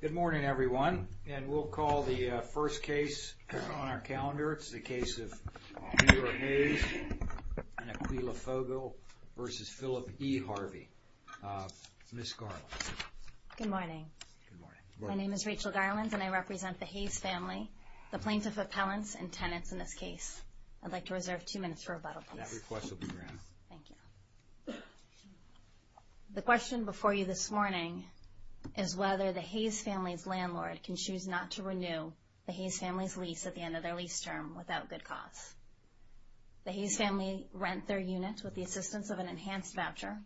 Good morning everyone, and we'll call the first case on our calendar. It's the case of New York Hayes and Aquila Fogel versus Philip E. Harvey. Ms. Garland. Good morning. My name is Rachel Garland and I represent the Hayes family, the plaintiff appellants and tenants in this case. I'd like to reserve two minutes for rebuttal. That request will be granted. Thank you. The question before you this morning is whether the Hayes family's landlord can choose not to renew the Hayes family's lease at the end of their lease term without good cause. The Hayes family rent their unit with the assistance of an enhanced voucher.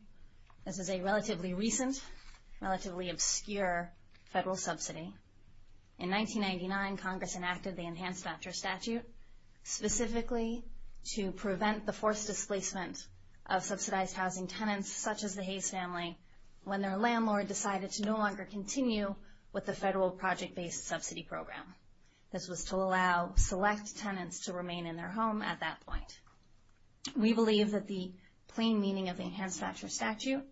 This is a relatively recent, relatively obscure federal subsidy. In 1999, Congress enacted the enhanced voucher statute specifically to prevent the forced displacement of subsidized housing tenants such as the Hayes family when their landlord decided to no longer continue with the federal project-based subsidy program. This was to allow select tenants to remain in their home at that point. We believe that the plain meaning of the enhanced voucher statute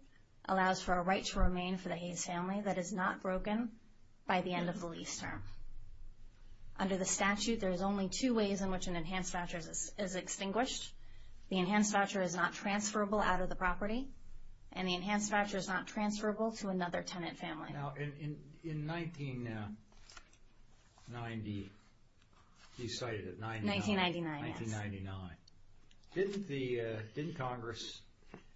allows for a right to remain for the Hayes family that is not broken by the end of the lease term. Under the statute, there is only two ways in which an enhanced voucher is extinguished. The enhanced voucher is not transferable out of the property and the enhanced voucher is not transferable to another tenant family. Now in 1990, you cited it, 1999. Didn't Congress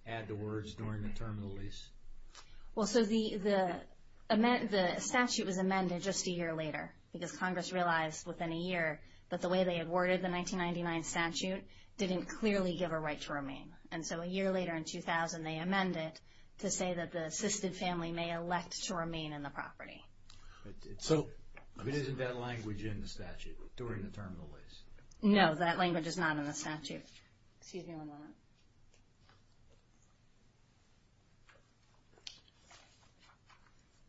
add the words during the term of the lease? Well, so the statute was amended just a year later because Congress realized within a year that the way they had worded the 1999 statute didn't clearly give a right to remain. And so a year later in 2000, they amended to say that the assisted family may elect to remain in the property. So isn't that language in the statute during the term of the lease? No, that language is not in the statute. Excuse me one moment.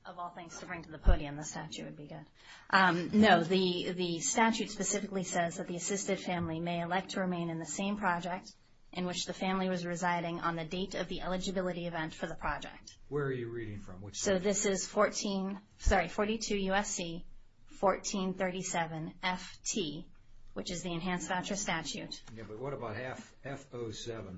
Of all things to bring to the podium, the statute would be good. No, the statute specifically says that the assisted family may elect to remain in the same project in which the family was residing on the date of the eligibility event for the project. Where are you reading from? So this is 42 U.S.C. 1437 F.T., which is the enhanced voucher statute. Yeah, but what about F07?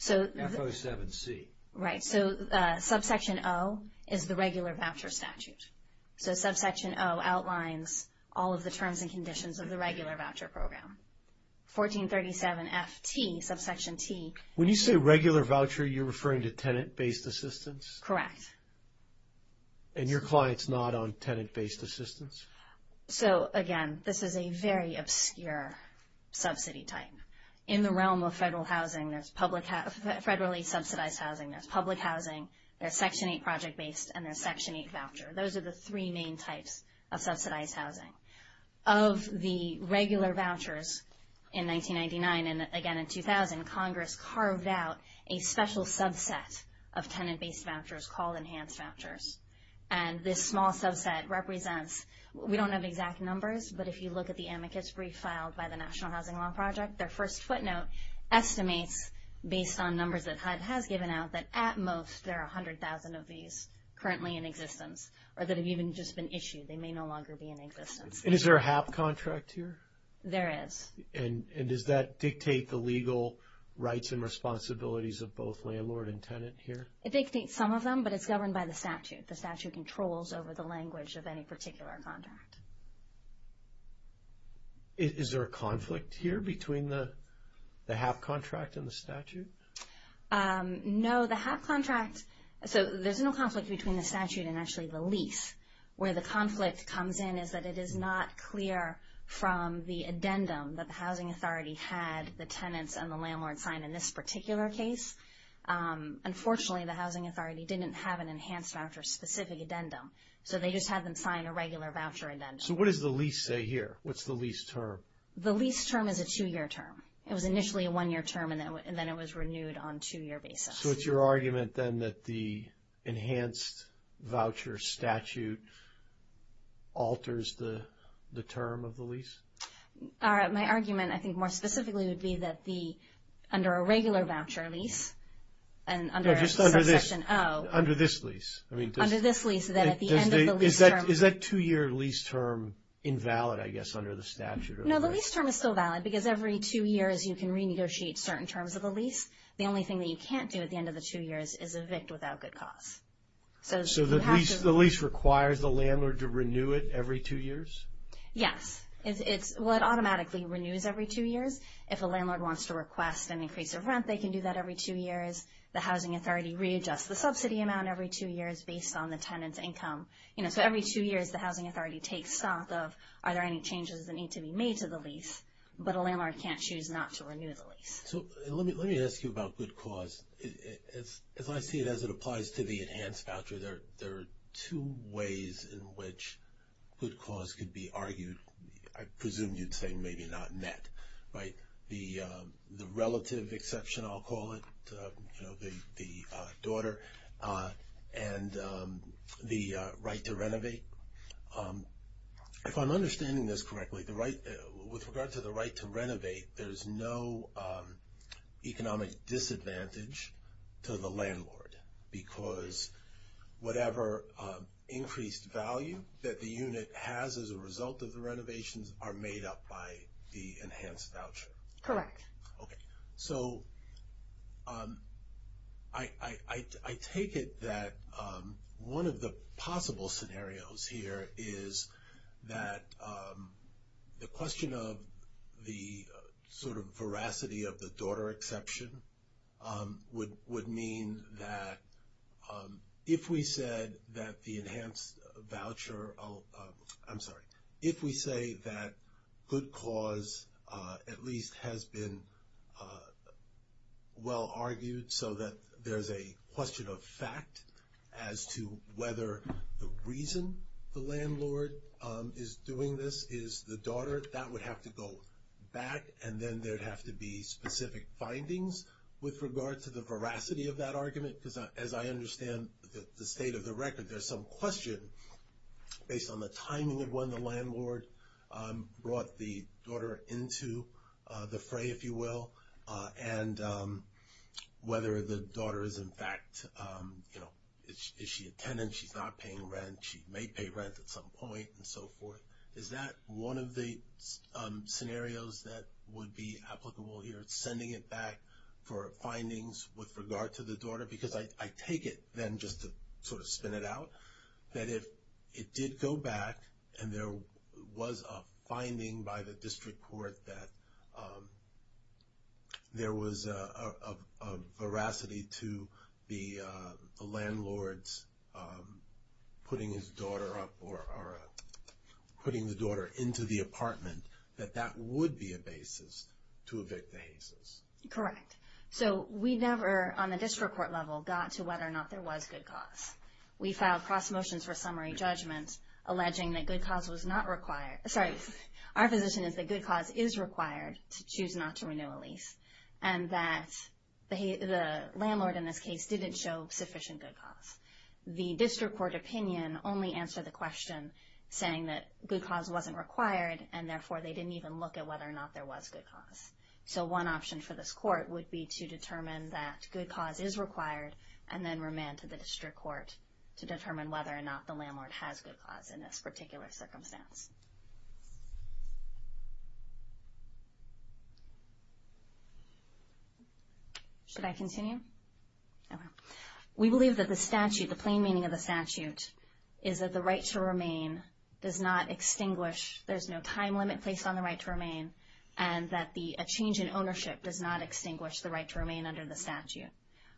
F07C. Right, so subsection O is the regular voucher statute. So subsection O outlines all of the terms and conditions of the regular voucher program. 1437 F.T., subsection T. When you say regular voucher, you're referring to tenant-based assistance? Correct. And your client's not on tenant-based assistance? So again, this is a very obscure subsidy type. In the realm of federal housing, there's federally subsidized housing, there's public housing, there's Section 8 project-based, and there's Section 8 voucher. Those are the three main types of subsidized housing. Of the regular subsets of tenant-based vouchers called enhanced vouchers. And this small subset represents, we don't have exact numbers, but if you look at the amicus brief filed by the National Housing Law Project, their first footnote estimates, based on numbers that HUD has given out, that at most, there are 100,000 of these currently in existence, or that have even just been issued. They may no longer be in existence. And is there a HAP contract here? There is. And does that dictate the legal rights and responsibilities of both landlord and tenant here? It dictates some of them, but it's governed by the statute. The statute controls over the language of any particular contract. Is there a conflict here between the HAP contract and the statute? No, the HAP contract, so there's no conflict between the statute and actually the lease. Where the conflict comes in is that it is not clear from the addendum that the Housing Authority had the tenants and the landlord signed in this particular case. Unfortunately, the Housing Authority didn't have an enhanced voucher specific addendum, so they just had them sign a regular voucher addendum. So what does the lease say here? What's the lease term? The lease term is a two-year term. It was initially a one-year term, and then it was renewed on a two-year basis. So it's your argument, then, that the enhanced voucher statute alters the term of the lease? My argument, I think, more specifically would be that under a regular voucher lease, and under subsection O... No, just under this. Under this lease. Under this lease, then at the end of the lease term... Is that two-year lease term invalid, I guess, under the statute? No, the lease term is still valid because every two years you can renegotiate certain terms of lease. The only thing that you can't do at the end of the two years is evict without good cause. So the lease requires the landlord to renew it every two years? Yes. Well, it automatically renews every two years. If a landlord wants to request an increase of rent, they can do that every two years. The Housing Authority readjusts the subsidy amount every two years based on the tenant's income. So every two years, the Housing Authority takes stock of are there any changes that need to be made to the lease, but a landlord can't choose not to renew the lease. So let me ask you about good cause. As I see it, as it applies to the enhanced voucher, there are two ways in which good cause could be argued. I presume you'd say maybe not net, right? The relative exception, I'll call it, the daughter, and the right to renovate. If I'm understanding this correctly, with regard to the right to renovate, there's no economic disadvantage to the landlord because whatever increased value that the unit has as a result of the renovations are made up by the enhanced voucher. Correct. Okay. So I take it that one of the possible scenarios here is that the question of the sort of veracity of the daughter exception would mean that if we said that the enhanced voucher, I'm sorry, if we say that good cause at least has been well argued so that there's a question of fact as to whether the reason the landlord is doing this is the daughter, that would have to go back and then there'd have to be specific findings with regard to the veracity of that argument. Because as I understand the state of the record, there's some question based on the timing of when the landlord brought the daughter into the fray, if you will, and whether the daughter is in fact, is she a tenant, she's not paying rent, she may pay rent at some point and so forth. Is that one of the scenarios that would be applicable here, sending it back for findings with regard to the daughter? Because I take it then just to sort of spin it out, that if it did go back and there was a finding by the district court that there was a veracity to the landlord's putting his daughter up or putting the daughter into the apartment, that that would be a basis to evict the Hayses. Correct. So we never, on the district court level, got to whether or not there was good cause. We filed cross motions for summary judgments alleging that good cause was not required. Sorry, our position is that good cause is required to choose not to renew a lease and that the landlord in this case didn't show sufficient good cause. The district court opinion only answered the question saying that good cause wasn't required and therefore they didn't even look at whether or not there was good cause. So one option for this court would be to determine that good cause is required and then remand to the district court to determine whether or not the landlord has good circumstance. Should I continue? We believe that the statute, the plain meaning of the statute, is that the right to remain does not extinguish, there's no time limit placed on the right to remain, and that a change in ownership does not extinguish the right to remain under the statute.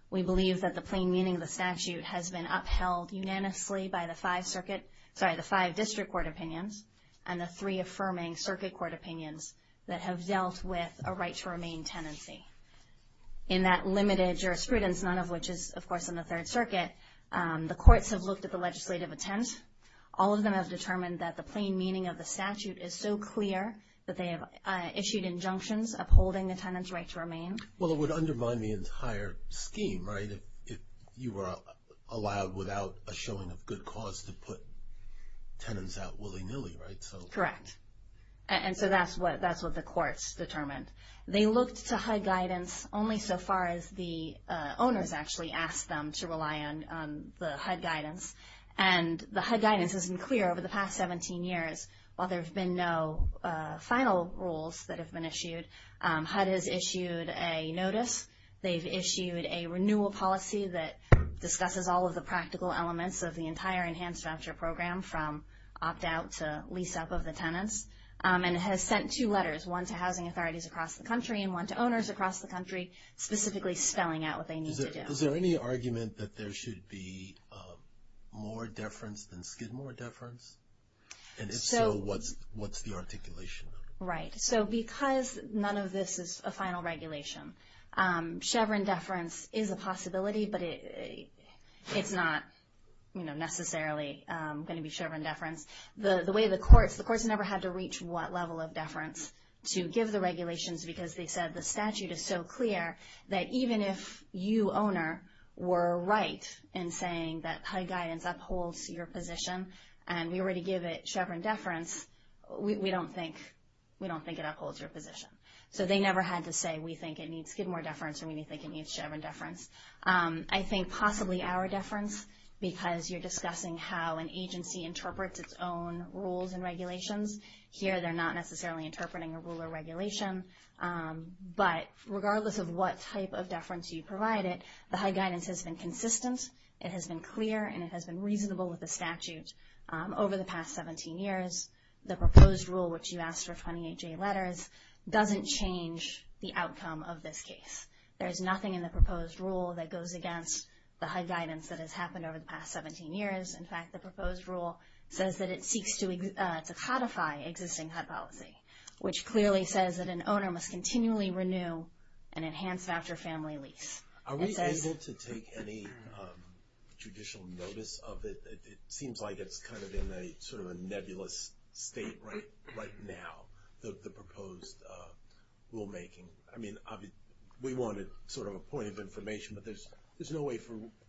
We believe that the plain meaning of the statute has been upheld unanimously by the five circuit, sorry, the five district court opinions and the three affirming circuit court opinions that have dealt with a right to remain tenancy. In that limited jurisprudence, none of which is of course in the third circuit, the courts have looked at the legislative intent. All of them have determined that the plain meaning of the statute is so clear that they have issued injunctions upholding the tenant's right to remain. Well, it would undermine the entire scheme, right, if you were allowed without a showing of good cause to put tenants out willy-nilly, right? Correct. And so that's what the courts determined. They looked to HUD guidance only so far as the owners actually asked them to rely on the HUD guidance, and the HUD guidance has been clear over the past 17 years. While there have been no final rules that have been issued, HUD has issued a notice, they've issued a renewal policy that discusses all of the practical elements of the entire enhanced voucher program from opt out to lease up of the tenants, and has sent two letters, one to housing authorities across the country and one to owners across the country, specifically spelling out what they need to do. Is there any argument that there should be more deference than skid more deference? And if so, what's the articulation? Right. So because none of this is a final regulation, Chevron deference is a possibility, but it's not, you know, necessarily going to be Chevron deference. The way the courts, the courts never had to reach what level of deference to give the regulations because they said the statute is so clear that even if you owner were right in saying that HUD guidance upholds your position, and we were to give it had to say we think it needs skid more deference and we think it needs Chevron deference. I think possibly our deference because you're discussing how an agency interprets its own rules and regulations. Here they're not necessarily interpreting a rule or regulation, but regardless of what type of deference you provide it, the HUD guidance has been consistent, it has been clear, and it has been reasonable with the statute over the past 17 years. The proposed rule, which you the outcome of this case. There's nothing in the proposed rule that goes against the HUD guidance that has happened over the past 17 years. In fact, the proposed rule says that it seeks to codify existing HUD policy, which clearly says that an owner must continually renew and enhance after family lease. Are we able to take any judicial notice of it? It seems like it's kind of in a nebulous state right now, the proposed rulemaking. I mean, we wanted sort of a point of information, but there's no way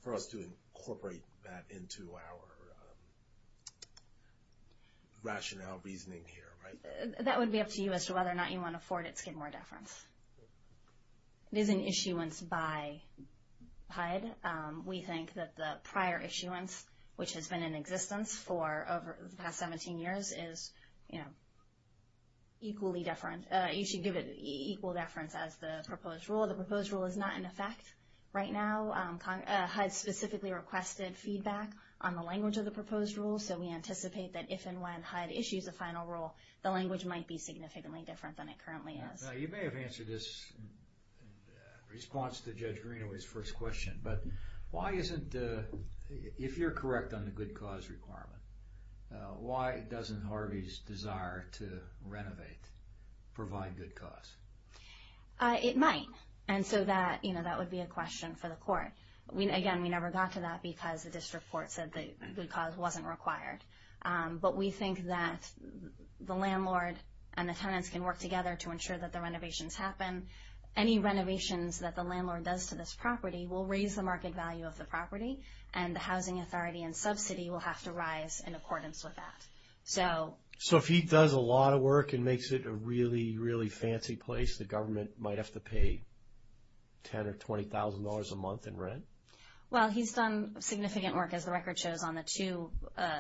for us to incorporate that into our rationale, reasoning here, right? That would be up to you as to whether or not you want to afford it skid more deference. It is an issuance by HUD. We think that the prior issuance, which has been in existence for the past 17 years, is equally deference. You should give it equal deference as the proposed rule. The proposed rule is not in effect right now. HUD specifically requested feedback on the language of the proposed rule, so we anticipate that if and when HUD issues a final rule, the language might be significantly different than it currently is. You may have answered this in response to Judge Greenaway's first question, but why isn't, if you're correct on the good cause requirement, why doesn't Harvey's desire to renovate provide good cause? It might, and so that would be a question for the court. Again, we never got to that because the district court said the good cause wasn't required, but we think that the landlord and the tenants can work together to ensure that the renovations happen. Any renovations that the property, and the housing authority and subsidy will have to rise in accordance with that. So if he does a lot of work and makes it a really, really fancy place, the government might have to pay $10,000 or $20,000 a month in rent? Well, he's done significant work, as the record shows, on the two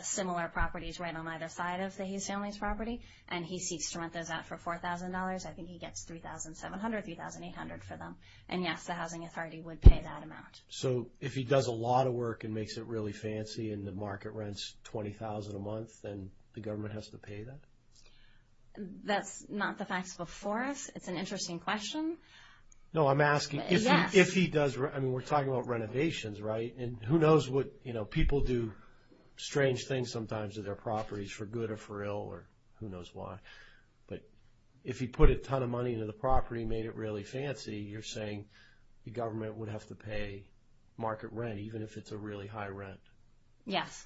similar properties right on either side of the Hughes family's property, and he seeks to rent those out for $4,000. I think he gets $3,700, $3,800 for them, and yes, the housing authority would pay that amount. So if he does a lot of work and makes it really fancy and the market rents $20,000 a month, then the government has to pay that? That's not the facts before us. It's an interesting question. No, I'm asking if he does, I mean, we're talking about renovations, right? And who knows what, you know, people do strange things sometimes to their properties for good or for ill or who knows why, but if he put a ton of money into the property and made it really fancy, you're saying the government would have to pay market rent, even if it's a really high rent? Yes.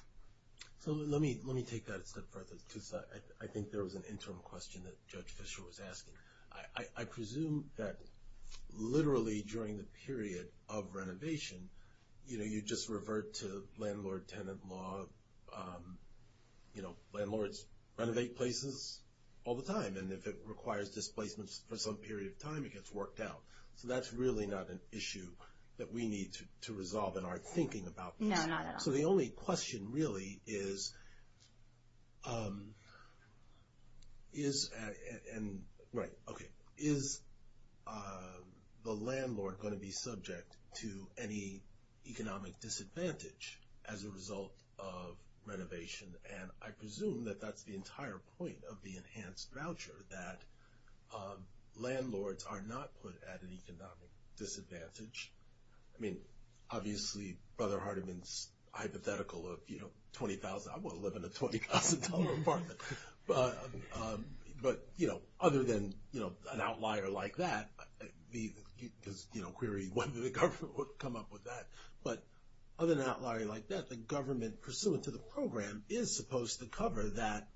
So let me take that a step further, because I think there was an interim question that Judge Fischer was asking. I presume that literally during the period of renovation, you know, you just revert to landlord-tenant law. You know, landlords renovate places all the time, and if it requires displacements for some period of time, it gets worked out. So that's really not an issue that we need to resolve in our thinking about this. No, not at all. So the only question really is, right, okay, is the landlord going to be subject to any economic disadvantage as a result of that? Landlords are not put at an economic disadvantage. I mean, obviously, Brother Hardiman's hypothetical of, you know, $20,000, I want to live in a $20,000 apartment. But, you know, other than, you know, an outlier like that, because, you know, query whether the government would come up with that. But other than an outlier like that, the government pursuant to is supposed to cover that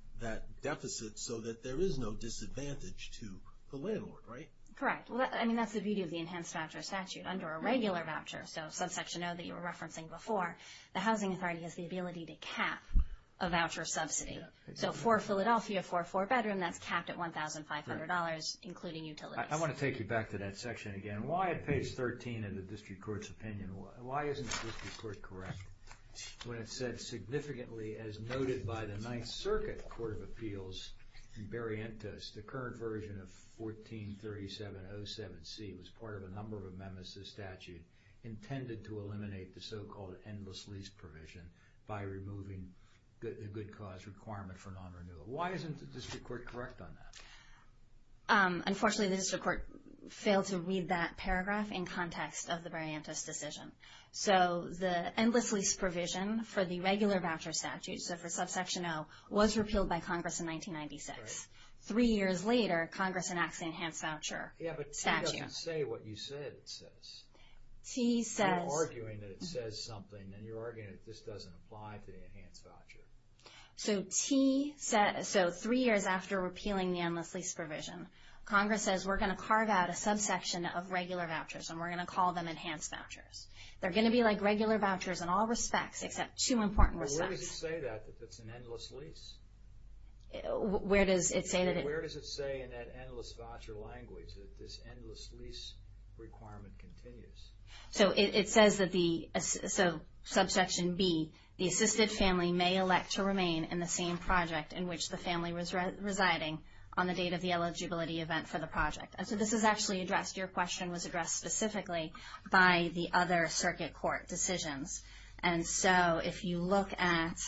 deficit so that there is no disadvantage to the landlord, right? Correct. I mean, that's the beauty of the Enhanced Voucher Statute. Under a regular voucher, so subsection O that you were referencing before, the Housing Authority has the ability to cap a voucher subsidy. So for Philadelphia, for a four-bedroom, that's capped at $1,500, including utilities. I want to take you back to that section again. Why at page 13 in the District Court's opinion, why isn't the District Court correct when it said, significantly as noted by the Ninth Circuit Court of Appeals in Barientos, the current version of 143707C was part of a number of amendments to the statute intended to eliminate the so-called endless lease provision by removing the good cause requirement for non-renewal. Why isn't the District Court correct on that? Unfortunately, the District Court failed to read that paragraph in context of the Barientos decision. So the endless lease provision for the regular voucher statute, so for subsection O, was repealed by Congress in 1996. Three years later, Congress enacts the Enhanced Voucher Statute. Yeah, but T doesn't say what you said it says. T says... You're arguing that it says something, and you're arguing that this doesn't apply to the Enhanced Voucher. So T says, so three years after repealing the endless lease provision, Congress says, we're going to carve out a subsection of regular vouchers, and we're going to call them Enhanced Vouchers. They're going to be like regular vouchers in all respects, except two important respects. But where does it say that, that it's an endless lease? Where does it say that it... Where does it say in that endless voucher language that this endless lease requirement continues? So it says that the, so subsection B, the assisted family may elect to remain in the same project in which the family was residing on the date of the eligibility event for the project. So this is actually addressed, your question was addressed specifically by the other circuit court decisions. And so if you look at,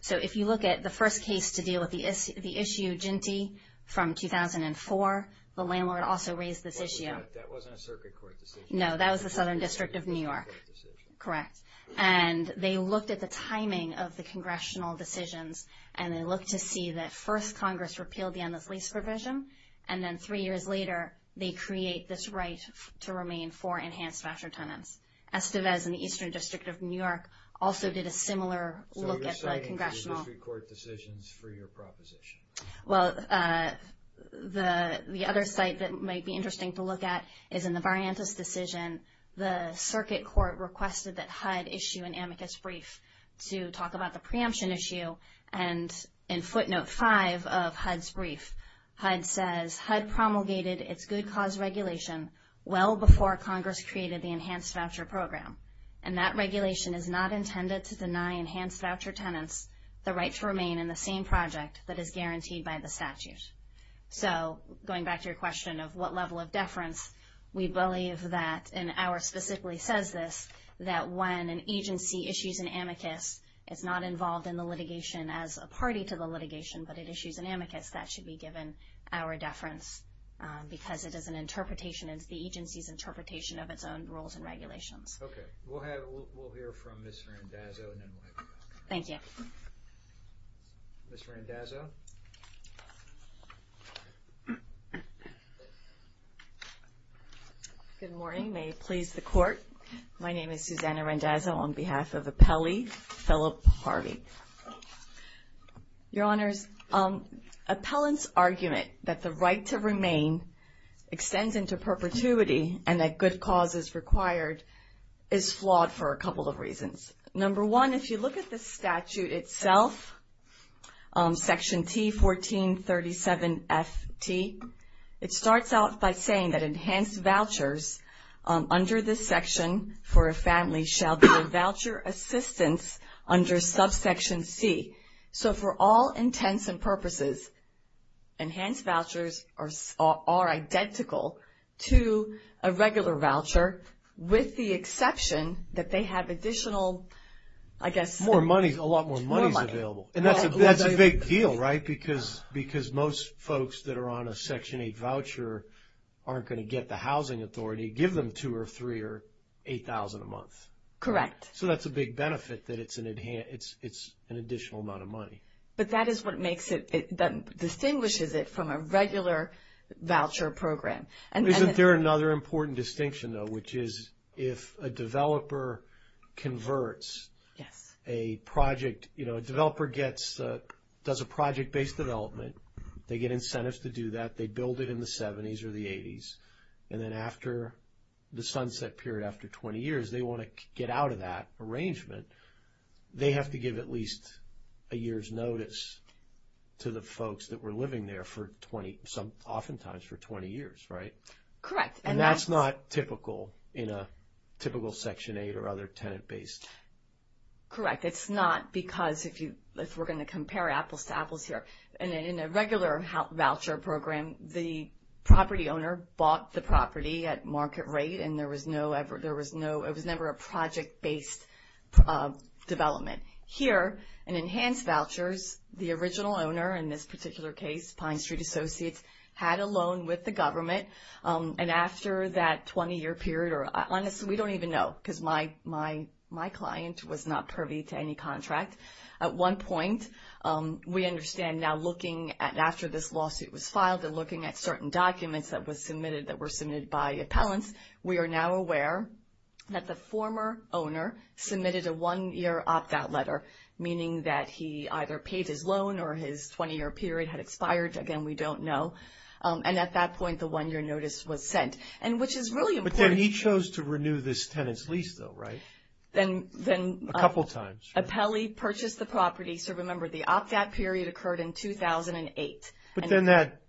so if you look at the first case to deal with the issue, Jinty, from 2004, the landlord also raised this issue. That wasn't a circuit court decision. No, that was the Southern District of New York. Correct. And they looked at the timing of the congressional decisions, and they looked to see that first provision. And then three years later, they create this right to remain for enhanced voucher tenants. Estevez in the Eastern District of New York also did a similar look at the congressional... So you're citing the district court decisions for your proposition. Well, the other site that might be interesting to look at is in the Variantis decision. The circuit court requested that HUD issue an amicus brief to talk about the preemption issue. And in footnote five of HUD's brief, HUD says, HUD promulgated its good cause regulation well before Congress created the enhanced voucher program. And that regulation is not intended to deny enhanced voucher tenants the right to remain in the same project that is guaranteed by the statute. So going back to your question of what level of deference, we believe that, and our specifically says this, that when an agency issues an amicus, it's not involved in the litigation as a party to the litigation, but it issues an amicus, that should be given our deference because it is an interpretation, it's the agency's interpretation of its own rules and regulations. Okay. We'll hear from Ms. Randazzo and then we'll have you back. Thank you. Ms. Randazzo. Good morning. May it please the court. My name is Susanna Randazzo on behalf of Appellee Philip Harvey. Your honors, appellant's argument that the right to remain extends into perpetuity and that good cause is required is flawed for a couple of reasons. Number one, if you look at the statute itself, section T1437FT, it starts out by saying that under this section for a family shall be a voucher assistance under subsection C. So for all intents and purposes, enhanced vouchers are identical to a regular voucher with the exception that they have additional, I guess... More money, a lot more money is available. And that's a big deal, right? Because most folks that are on a section 8 voucher aren't going to get the housing authority, give them two or three or 8,000 a month. Correct. So that's a big benefit that it's an additional amount of money. But that is what makes it, that distinguishes it from a regular voucher program. And isn't there another important distinction though, which is if a developer converts a project, a developer does a project-based development, they get incentives to do that, they build it in the 70s or the 80s, and then after the sunset period, after 20 years, they want to get out of that arrangement, they have to give at least a year's notice to the folks that were living there for 20, oftentimes for 20 years, right? Correct. And that's not typical in a typical section 8 or other tenant-based... Correct. It's not because if you, if we're going to compare apples to apples here, and in a regular voucher program, the property owner bought the property at market rate, and there was no, there was no, it was never a project-based development. Here, in enhanced vouchers, the original owner, in this particular case, Pine Street Associates, had a loan with the government, and after that 20-year period, or honestly, we don't even know, because my client was not privy to any contract. At one point, we understand now looking at, after this lawsuit was filed, and looking at certain documents that was submitted, that were submitted by appellants, we are now aware that the former owner submitted a one-year opt-out letter, meaning that he either paid his loan or his 20-year period had expired. Again, we don't know. And at that point, the one-year notice was sent. And which is really important... But then he chose to renew this tenant's lease, though, right? Then... A couple of times. Appellee purchased the property. So remember, the opt-out period occurred in 2008. But then that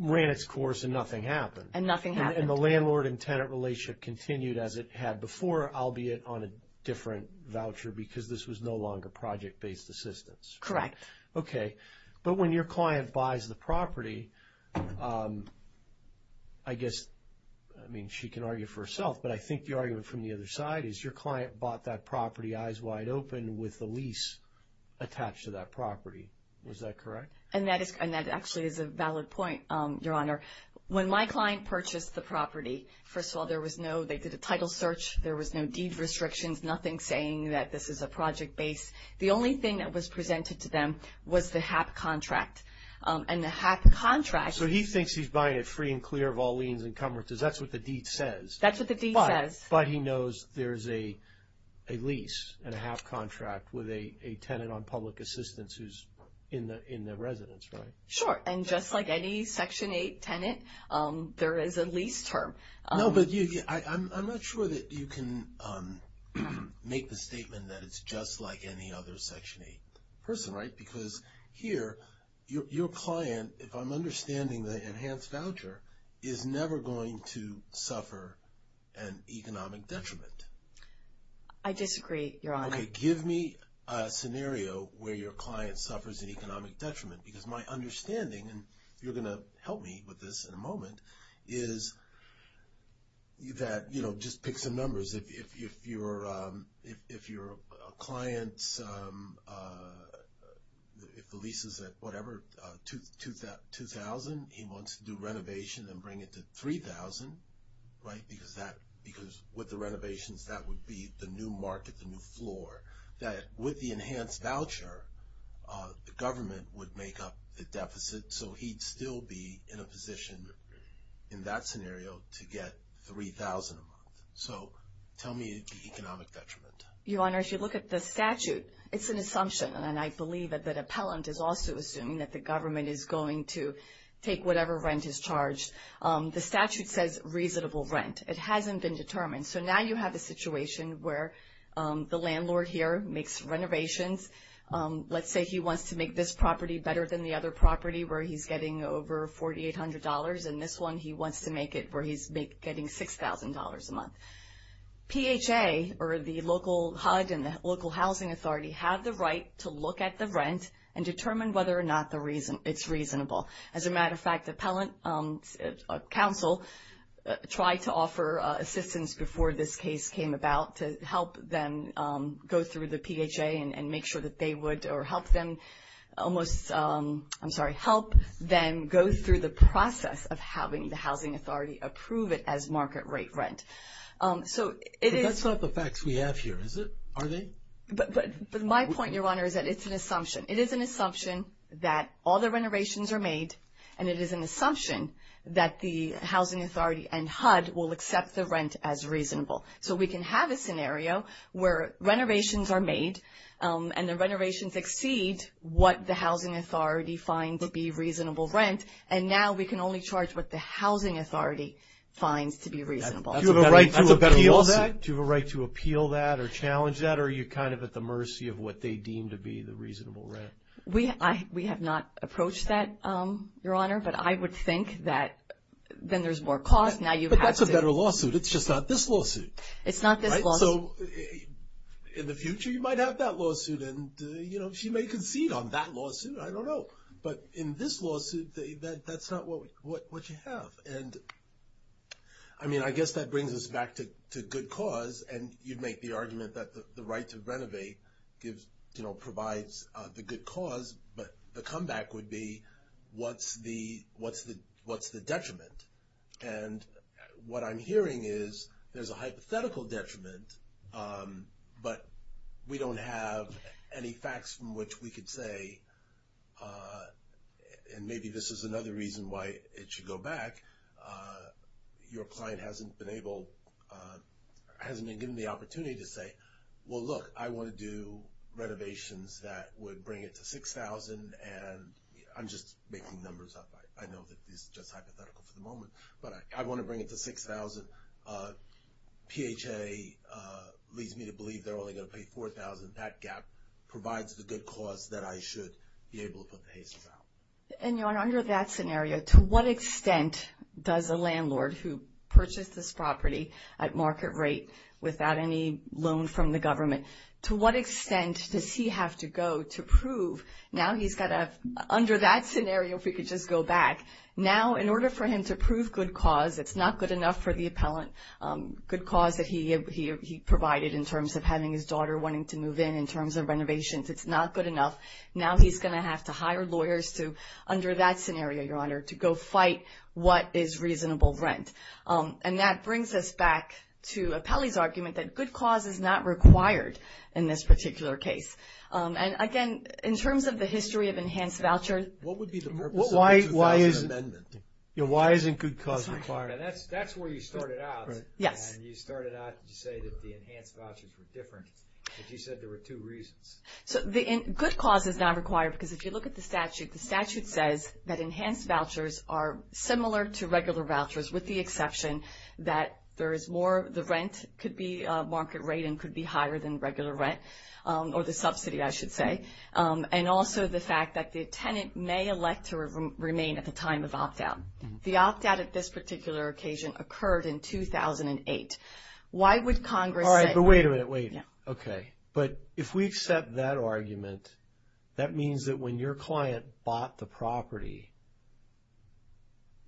ran its course and nothing happened. And nothing happened. And the landlord and tenant relationship continued as it had before, albeit on a different voucher, because this was no longer project-based assistance. Correct. Okay. But when your client buys the property, I guess, I mean, she can argue for herself, but I think the argument from the other side is your client bought that property, eyes wide open, with the lease attached to that property. Was that correct? And that actually is a valid point, Your Honor. When my client purchased the property, first of all, there was no... They did a title search. There was no deed restrictions, nothing saying that this is a project-based... The only thing that was presented to them was the HAP contract. And the HAP contract... So he thinks he's buying it free and clear of all liens and coverages. That's what the deed says. That's what the deed says. But he knows there's a lease and a HAP contract with a tenant on public assistance who's in the residence, right? Sure. And just like any Section 8 tenant, there is a lease term. No, but I'm not sure that you can make the statement that it's just like any other Section 8 person, right? Because here, your client, if I'm understanding the enhanced voucher, is never going to suffer an economic detriment. I disagree, Your Honor. Okay. Give me a scenario where your client suffers an economic detriment. Because my understanding, and you're going to help me with this in a moment, is that... You know, just pick some numbers. If your client's... If the lease is at whatever, $2,000, he wants to do renovation and bring it to $3,000, right? Because with the renovations, that would be the new market, the new floor. That with the enhanced voucher, the government would make up the deficit. So he'd still be in a position in that scenario to get $3,000 a month. So tell me the economic detriment. Your Honor, if you look at the statute, it's an assumption, and I believe that the appellant is also assuming that the government is going to take whatever rent is charged. The statute says reasonable rent. It hasn't been determined. So now you have a situation where the landlord here makes renovations. Let's say he wants to make this property better than the other property where he's getting over $4,800, and this one, he wants to make it where he's getting $6,000 a month. PHA or the local HUD and the local housing authority have the right to look at the rent and determine whether or not it's reasonable. As a matter of fact, appellant counsel tried to offer assistance before this case came about to help them go through the PHA and make sure that they would... Or help them almost... I'm sorry, help them go through the process of having the housing authority approve it as market rate rent. So it is... That's not the facts we have here, is it? Are they? But my point, Your Honor, is that it's an assumption. It is an assumption that all the renovations are made, and it is an assumption that the housing authority and HUD will accept the rent as reasonable. So we can have a scenario where renovations are made, and the renovations exceed what the housing authority find to be reasonable rent, and now we can only charge what the housing authority finds to be reasonable. Do you have a right to appeal that or challenge that, or are you kind of at the mercy of what they deem to be the reasonable rent? We have not approached that, Your Honor, but I would think that then there's more cost. But that's a better lawsuit. It's just not this lawsuit. It's not this lawsuit. So in the future, you might have that lawsuit, and she may concede on that lawsuit. I don't know. But in this lawsuit, that's not what you have. And I mean, I guess that brings us back to good cause. And you'd make the argument that the right to renovate provides the good cause, but the comeback would be what's the detriment? And what I'm hearing is there's a hypothetical detriment, but we don't have any facts from which we could say, and maybe this is another reason why it should go back. Your client hasn't been able, hasn't been given the opportunity to say, well, look, I want to do renovations that would bring it to $6,000, and I'm just making numbers up. I know that this is just hypothetical for the moment. But I want to bring it to $6,000. PHA leads me to believe they're only going to pay $4,000. And that gap provides the good cause that I should be able to put the HACES out. And under that scenario, to what extent does a landlord who purchased this property at market rate without any loan from the government, to what extent does he have to go to prove now he's got to, under that scenario, if we could just go back, now in order for him to prove good cause, it's not good enough for the appellant, good cause that he provided in terms of having his daughter wanting to move in, in terms of renovations, it's not good enough. Now he's going to have to hire lawyers to, under that scenario, Your Honor, to go fight what is reasonable rent. And that brings us back to Appellee's argument that good cause is not required in this particular case. And again, in terms of the history of enhanced voucher- What would be the purpose of the 2000 amendment? Why isn't good cause required? That's where you started out. Yes. You started out to say that the enhanced vouchers were different, but you said there were two reasons. So good cause is not required because if you look at the statute, the statute says that enhanced vouchers are similar to regular vouchers, with the exception that there is more, the rent could be market rate and could be higher than regular rent, or the subsidy, I should say. And also the fact that the tenant may elect to remain at the time of opt-out. The opt-out at this particular occasion occurred in 2008. Why would Congress say- All right. But wait a minute. Wait. Okay. But if we accept that argument, that means that when your client bought the property,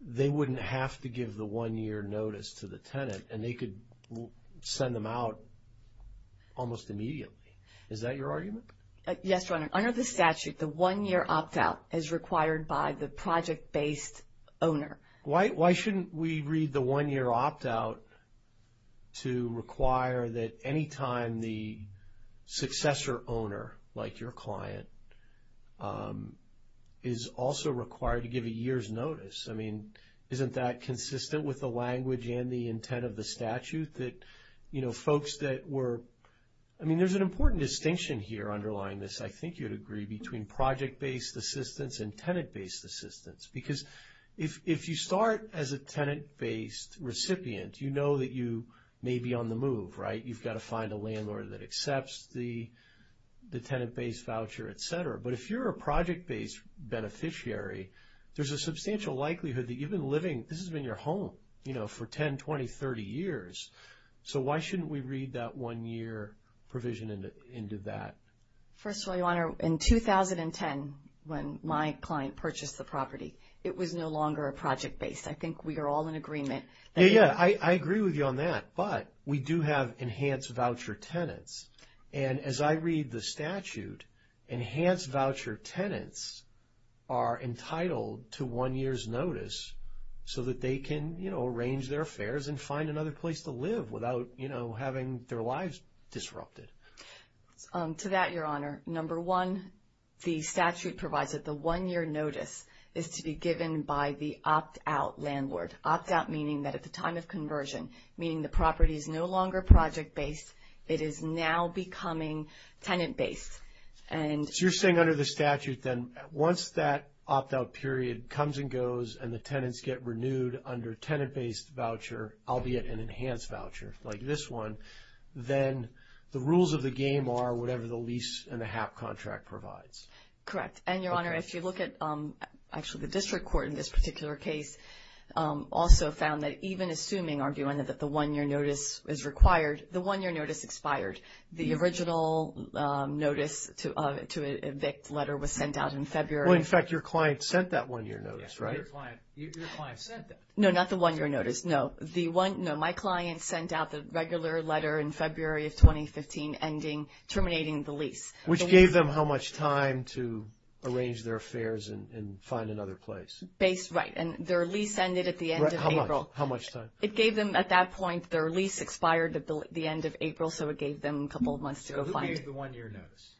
they wouldn't have to give the one-year notice to the tenant and they could send them out almost immediately. Is that your argument? Yes, Your Honor. Under the statute, the one-year opt-out is required by the project-based owner. Why shouldn't we read the one-year opt-out to require that any time the successor owner, like your client, is also required to give a year's notice? I mean, isn't that consistent with the language and the intent of the statute that folks that were... I mean, there's an important distinction here underlying this. I think you'd agree between project-based assistance and tenant-based assistance. Because if you start as a tenant-based recipient, you know that you may be on the move, right? You've got to find a landlord that accepts the tenant-based voucher, et cetera. But if you're a project-based beneficiary, there's a substantial likelihood that you've been living... This has been your home for 10, 20, 30 years. So why shouldn't we read that one-year provision into that? First of all, Your Honor, in 2010, when my client purchased the property, it was no longer a project-based. I think we are all in agreement that... Yeah, I agree with you on that. But we do have enhanced voucher tenants. And as I read the statute, enhanced voucher tenants are entitled to one year's notice so that they can arrange their affairs and find another place to live without having their lives disrupted. To that, Your Honor, number one, the statute provides that the one-year notice is to be given by the opt-out landlord. Opt-out meaning that at the time of conversion, meaning the property is no longer project-based. It is now becoming tenant-based. So you're saying under the statute then once that opt-out period comes and goes and the tenants get renewed under tenant-based voucher, albeit an enhanced voucher like this one, then the rules of the game are whatever the lease and the HAP contract provides. Correct. And, Your Honor, if you look at actually the district court in this particular case also found that even assuming, arguing that the one-year notice is required, the one-year notice expired. The original notice to evict letter was sent out in February. Well, in fact, your client sent that one-year notice, right? Yes, your client sent that. No, not the one-year notice. No, my client sent out the regular letter in February of 2015 ending, terminating the lease. Which gave them how much time to arrange their affairs and find another place. Based, right. And their lease ended at the end of April. How much time? It gave them at that point, their lease expired at the end of April, so it gave them a couple of months to go find it. Who gave the one-year notice?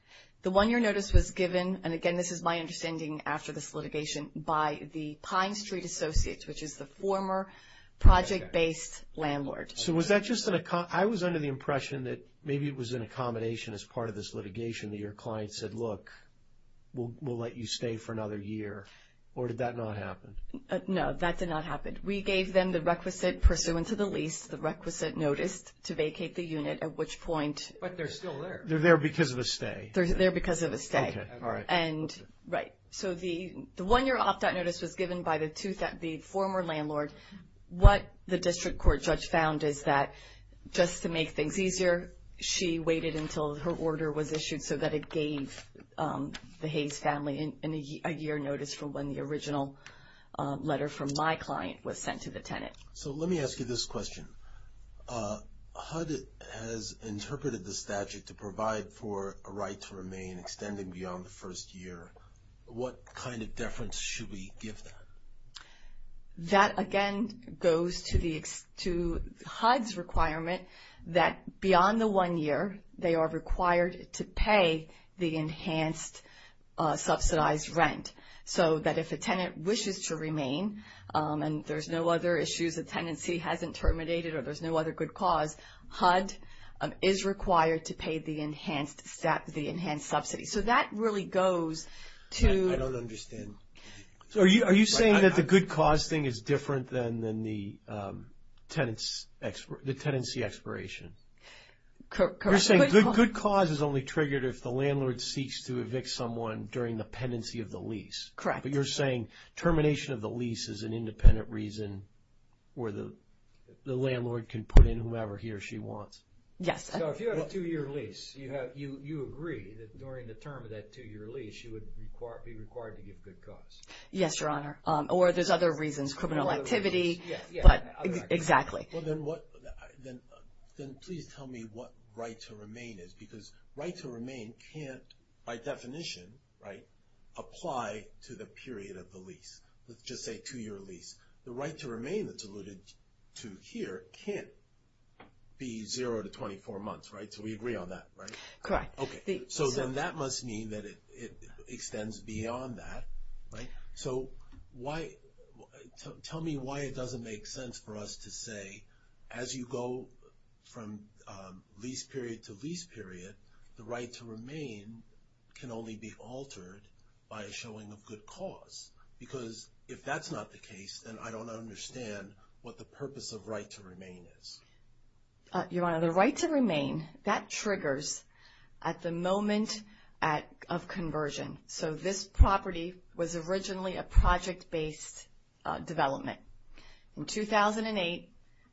The one-year notice was given, and again, this is my understanding after this litigation, by the Pine Street Associates, which is the former project-based landlord. So was that just an, I was under the impression that maybe it was an accommodation as part of this litigation that your client said, look, we'll let you stay for another year, or did that not happen? No, that did not happen. We gave them the requisite pursuant to the lease, the requisite notice to vacate the unit at which point. But they're still there. They're there because of a stay. They're there because of a stay. Okay, all right. Right. So the one-year opt-out notice was given by the former landlord. What the district court judge found is that just to make things easier, she waited until her order was issued so that it gave the Hayes family a year notice for when the original letter from my client was sent to the tenant. So let me ask you this question. HUD has interpreted the statute to provide for a right to remain extending beyond the year. What kind of deference should we give that? That, again, goes to HUD's requirement that beyond the one year, they are required to pay the enhanced subsidized rent so that if a tenant wishes to remain and there's no other issues the tenancy hasn't terminated or there's no other good cause, HUD is required to pay the enhanced subsidy. So that really goes to- I don't understand. So are you saying that the good cause thing is different than the tenancy expiration? You're saying good cause is only triggered if the landlord seeks to evict someone during the pendency of the lease? Correct. But you're saying termination of the lease is an independent reason where the landlord can put in whomever he or she wants? Yes. So if you have a two-year lease, you agree that during the term of that two-year lease you would be required to give good cause? Yes, Your Honor. Or there's other reasons, criminal activity. Yes, other reasons. Exactly. Well, then please tell me what right to remain is. Because right to remain can't, by definition, apply to the period of the lease. Let's just say two-year lease. The right to remain that's alluded to here can't be zero to 24 months, right? So we agree on that, right? Correct. Okay. So then that must mean that it extends beyond that, right? So tell me why it doesn't make sense for us to say, as you go from lease period to lease period, the right to remain can only be altered by a showing of good cause. Because if that's not the case, then I don't understand what the purpose of right to remain is. Your Honor, the right to remain, that triggers at the moment of conversion. So this property was originally a project-based development. In 2008,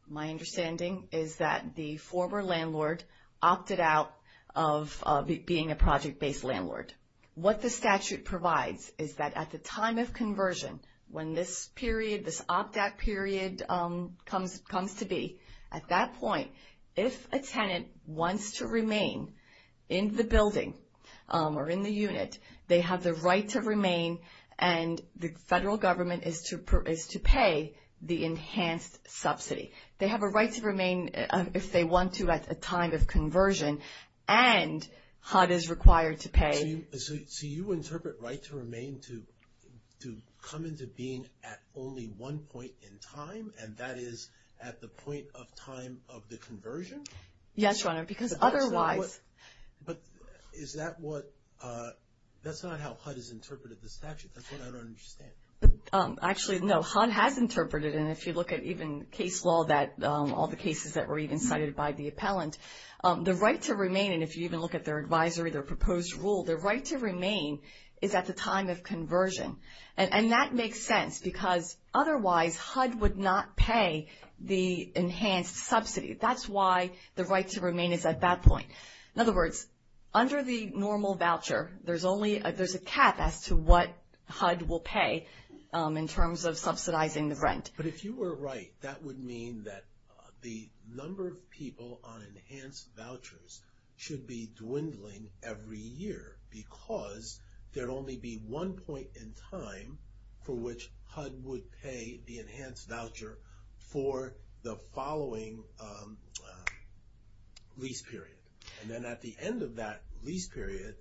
my understanding is that the former landlord opted out of being a project-based landlord. What the statute provides is that at the time of conversion, when this period, this opt-out period comes to be, at that point, if a tenant wants to remain in the building or in the unit, they have the right to remain, and the federal government is to pay the enhanced subsidy. They have a right to remain if they want to at a time of conversion, and HUD is required to pay. So you interpret right to remain to come into being at only one point in time, and that is at the point of time of the conversion? Yes, Your Honor, because otherwise... But is that what... That's not how HUD has interpreted the statute. That's what I don't understand. Actually, no, HUD has interpreted, and if you look at even case law, all the cases that were even cited by the appellant, the right to remain, and if you even look at their advisory, their proposed rule, their right to remain is at the time of conversion, and that makes sense because otherwise HUD would not pay the enhanced subsidy. That's why the right to remain is at that point. In other words, under the normal voucher, there's a cap as to what HUD will pay in terms of subsidizing the rent. But if you were right, that would mean that the number of people on enhanced vouchers should be dwindling every year because there'd only be one point in time for which HUD would pay the enhanced voucher for the following lease period, and then at the end of that lease period,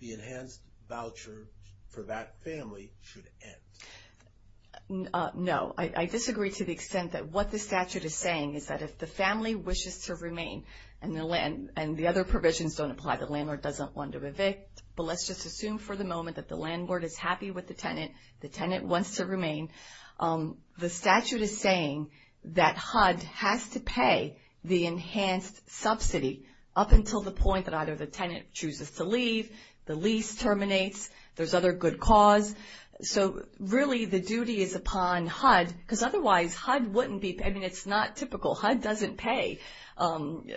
the enhanced voucher for that family should end. No, I disagree to the extent that what the statute is saying is that if the family wishes to remain and the other provisions don't apply, the landlord doesn't want to evict, but let's just assume for the moment that the landlord is happy with the tenant. The tenant wants to remain. The statute is saying that HUD has to pay the enhanced subsidy up until the point that either the tenant chooses to leave, the lease terminates, there's other good cause. So really, the duty is upon HUD because otherwise HUD wouldn't be paying. It's not typical. HUD doesn't pay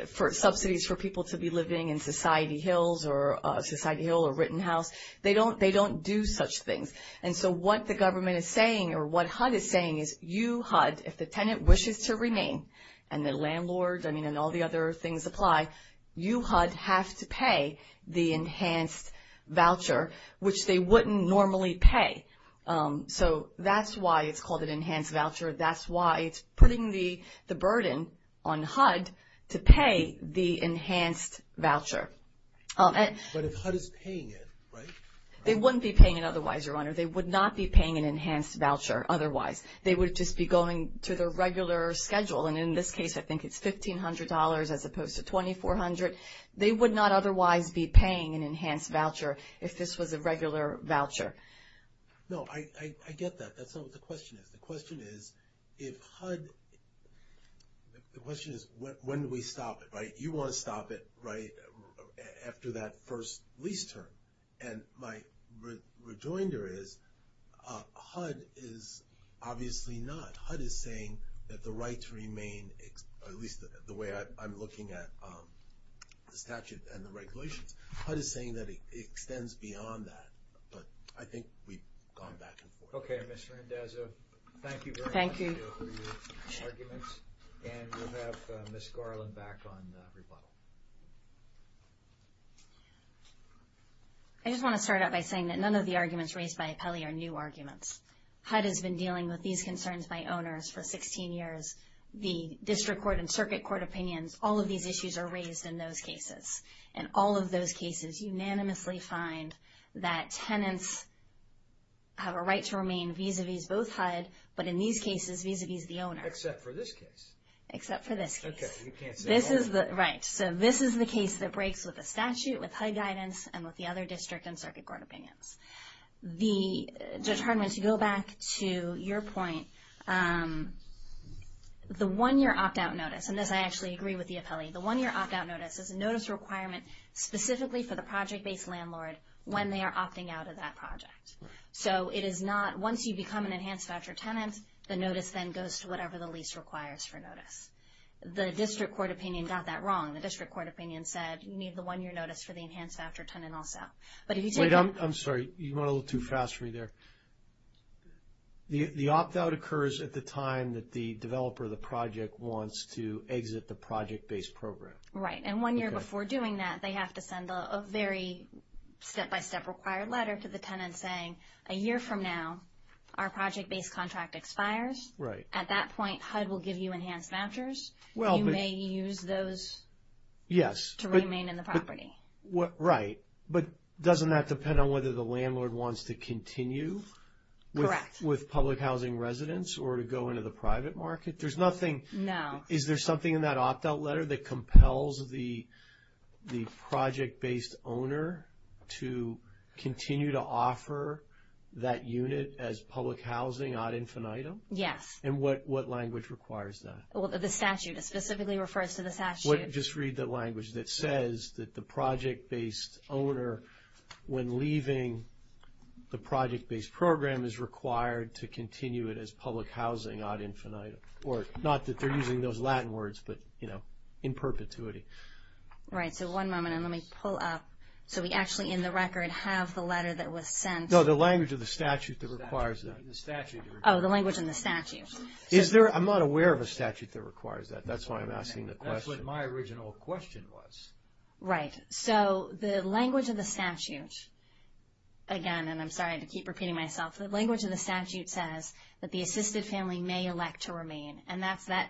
for subsidies for people to be living in Society Hills or Society Hill or Rittenhouse. They don't do such things. And so what the government is saying or what HUD is saying is you, HUD, if the tenant wishes to remain and the landlord, I mean, and all the other things apply, you, HUD, have to pay the enhanced voucher, which they wouldn't normally pay. So that's why it's called an enhanced voucher. That's why it's putting the burden on HUD to pay the enhanced voucher. But if HUD is paying it, right? They wouldn't be paying it otherwise, Your Honor. They would not be paying an enhanced voucher otherwise. They would just be going to their regular schedule. And in this case, I think it's $1,500 as opposed to $2,400. They would not otherwise be paying an enhanced voucher if this was a regular voucher. No, I get that. That's not what the question is. The question is when do we stop it, right? You want to stop it after that first lease term. And my rejoinder is HUD is obviously not. HUD is saying that the right to remain, at least the way I'm looking at the statute and the regulations, HUD is saying that it extends beyond that. But I think we've gone back and forth. Okay, Mr. Indezza, thank you very much for your arguments. And we'll have Ms. Garland back on rebuttal. I just want to start out by saying that none of the arguments raised by Apelli are new arguments. HUD has been dealing with these concerns by owners for 16 years. The district court and circuit court opinions, all of these issues are raised in those cases. And all of those cases unanimously find that tenants have a right to remain vis-a-vis both HUD, but in these cases, vis-a-vis the owner. Except for this case. Except for this case. Okay, you can't say all of them. Right. So this is the case that breaks with the statute, with HUD guidance, and with the other district and circuit court opinions. Judge Hardiman, to go back to your point, the one-year opt-out notice, and this I actually agree with the Apelli, the one-year opt-out notice is a notice requirement specifically for the project-based landlord when they are opting out of that project. So it is not, once you become an enhanced voucher tenant, the notice then goes to whatever the lease requires for notice. The district court opinion got that wrong. The district court opinion said, you need the one-year notice for the enhanced voucher tenant also. Wait, I'm sorry, you went a little too fast for me there. The opt-out occurs at the time that the developer of the project wants to exit the project-based program. Right, and one year before doing that, they have to send a very step-by-step required letter to the tenant saying, a year from now, our project-based contract expires. Right. At that point, HUD will give you enhanced vouchers. You may use those to remain in the property. Right, but doesn't that depend on whether the landlord wants to continue with public housing residents or to go into the private market? There's nothing... No. Is there something in that opt-out letter that compels the project-based owner to continue to offer that unit as public housing ad infinitum? Yes. And what language requires that? Well, the statute specifically refers to the statute. Just read the language that says that the project-based owner, when leaving the project-based program, is required to continue it as public housing ad infinitum. Or not that they're using those Latin words, but in perpetuity. Right. So one moment, and let me pull up. So we actually, in the record, have the letter that was sent. No, the language of the statute that requires that. The statute. Oh, the language in the statute. Is there... I'm not aware of a statute that requires that. That's why I'm asking the question. That's what my original question was. Right. So the language of the statute, again, and I'm sorry to keep repeating myself, the language of the statute says that the assisted family may elect to remain. And that's that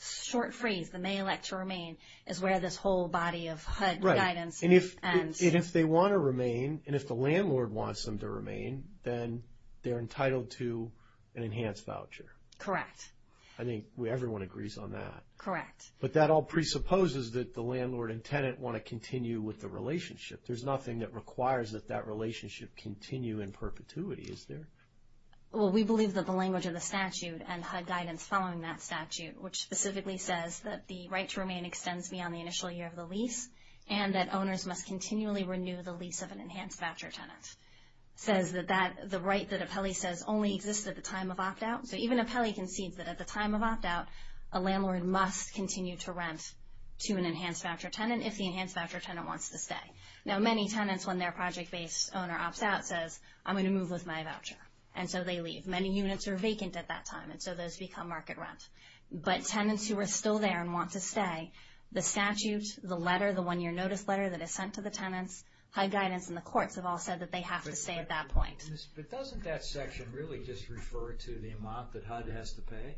short phrase, the may elect to remain, is where this whole body of HUD guidance ends. And if they want to remain, and if the landlord wants them to remain, then they're entitled to an enhanced voucher. Correct. I think everyone agrees on that. Correct. But that all presupposes that the landlord and tenant want to continue with the relationship. There's nothing that requires that that relationship continue in perpetuity. Is there? Well, we believe that the language of the statute and HUD guidance following that statute, which specifically says that the right to remain extends beyond the initial year of the lease, and that owners must continually renew the lease of an enhanced voucher tenant, says that the right that Apelli says only exists at the time of opt-out. So even Apelli concedes that at the time of opt-out, a landlord must continue to rent to an enhanced voucher tenant if the enhanced voucher tenant wants to stay. Now, many tenants, when their project-based owner opts out, says, I'm going to move with my voucher. And so they leave. Many units are vacant at that time, and so those become market rent. But tenants who are still there and want to stay, the statute, the letter, the one-year notice letter that is sent to the tenants, HUD guidance, and the courts have all said that they have to stay at that point. But doesn't that section really just refer to the amount that HUD has to pay?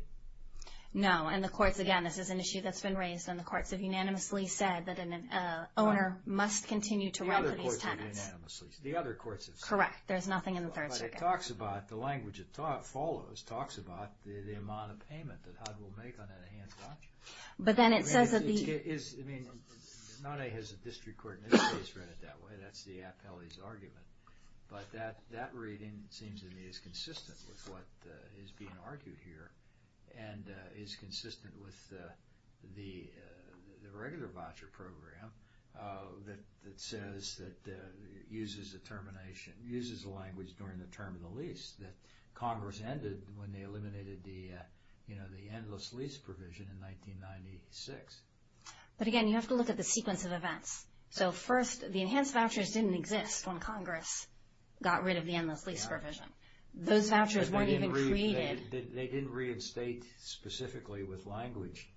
No. And the courts, again, this is an issue that's been raised, and the courts have unanimously said that an owner must continue to rent to these tenants. The other courts have said that. Correct. There's nothing in the Third Circuit. But it talks about, the language it follows, talks about the amount of payment that HUD will make on an enhanced voucher. But then it says that the... I mean, NANEA has a district court in this case read it that way. That's the Apelli's argument. But that reading seems to me is consistent with what is being argued here and is consistent with the regular voucher program that says that it uses the termination, uses the language during the term of the lease that Congress ended when they eliminated the endless lease provision in 1996. But again, you have to look at the sequence of events. So first, the enhanced vouchers didn't exist when Congress got rid of the endless lease provision. Those vouchers weren't even created. They didn't reinstate specifically with language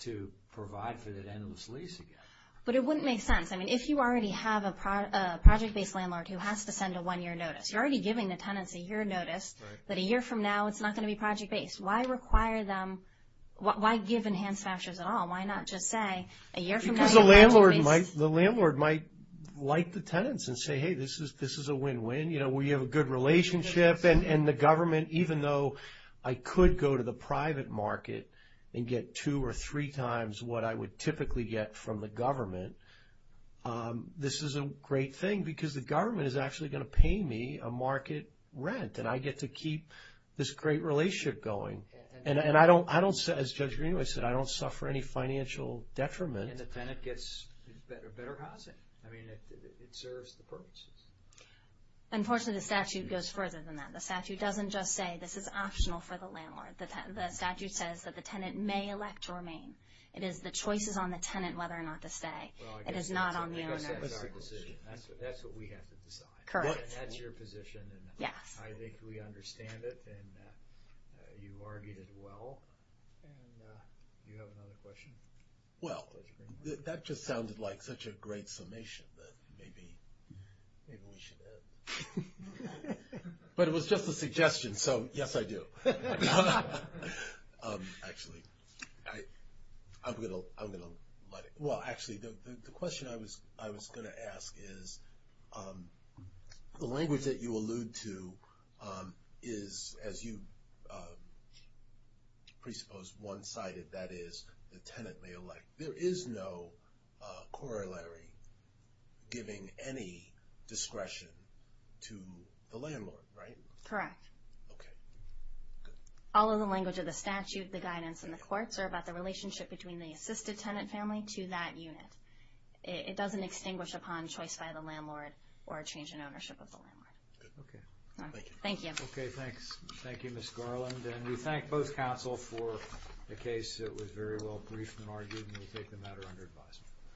to provide for that endless lease again. But it wouldn't make sense. I mean, if you already have a project-based landlord who has to send a one-year notice, you're already giving the tenants a year notice that a year from now it's not going to be project-based. Why require them, why give enhanced vouchers at all? Why not just say a year from now... Because the landlord might like the tenants and say, hey, this is a win-win. You know, we have a good relationship. And the government, even though I could go to the private market and get two or three times what I would typically get from the government, this is a great thing because the government is actually going to pay me a market rent. And I get to keep this great relationship going. And I don't, as Judge Greenway said, I don't suffer any financial detriment. And the tenant gets better housing. I mean, it serves the purposes. Unfortunately, the statute goes further than that. The statute doesn't just say this is optional for the landlord. The statute says that the tenant may elect to remain. It is the choices on the tenant whether or not to stay. It is not on the owner. That's a decision. That's what we have to decide. Correct. That's your position. And I think we understand it. And you argued it well. And do you have another question? Well, that just sounded like such a great summation that maybe we should end. But it was just a suggestion. So, yes, I do. Actually, I'm going to let it. Well, actually, the question I was going to ask is, the language that you allude to is, as you presupposed, one-sided. That is, the tenant may elect. There is no corollary giving any discretion to the landlord, right? Correct. Okay, good. All of the language of the statute, the guidance, and the courts are about the relationship between the assisted tenant family to that unit. It doesn't extinguish upon choice by the landlord or a change in ownership of the landlord. Good, okay. Thank you. Okay, thanks. Thank you, Ms. Garland. And we thank both counsel for the case. It was very well briefed and argued. And we take the matter under advisement.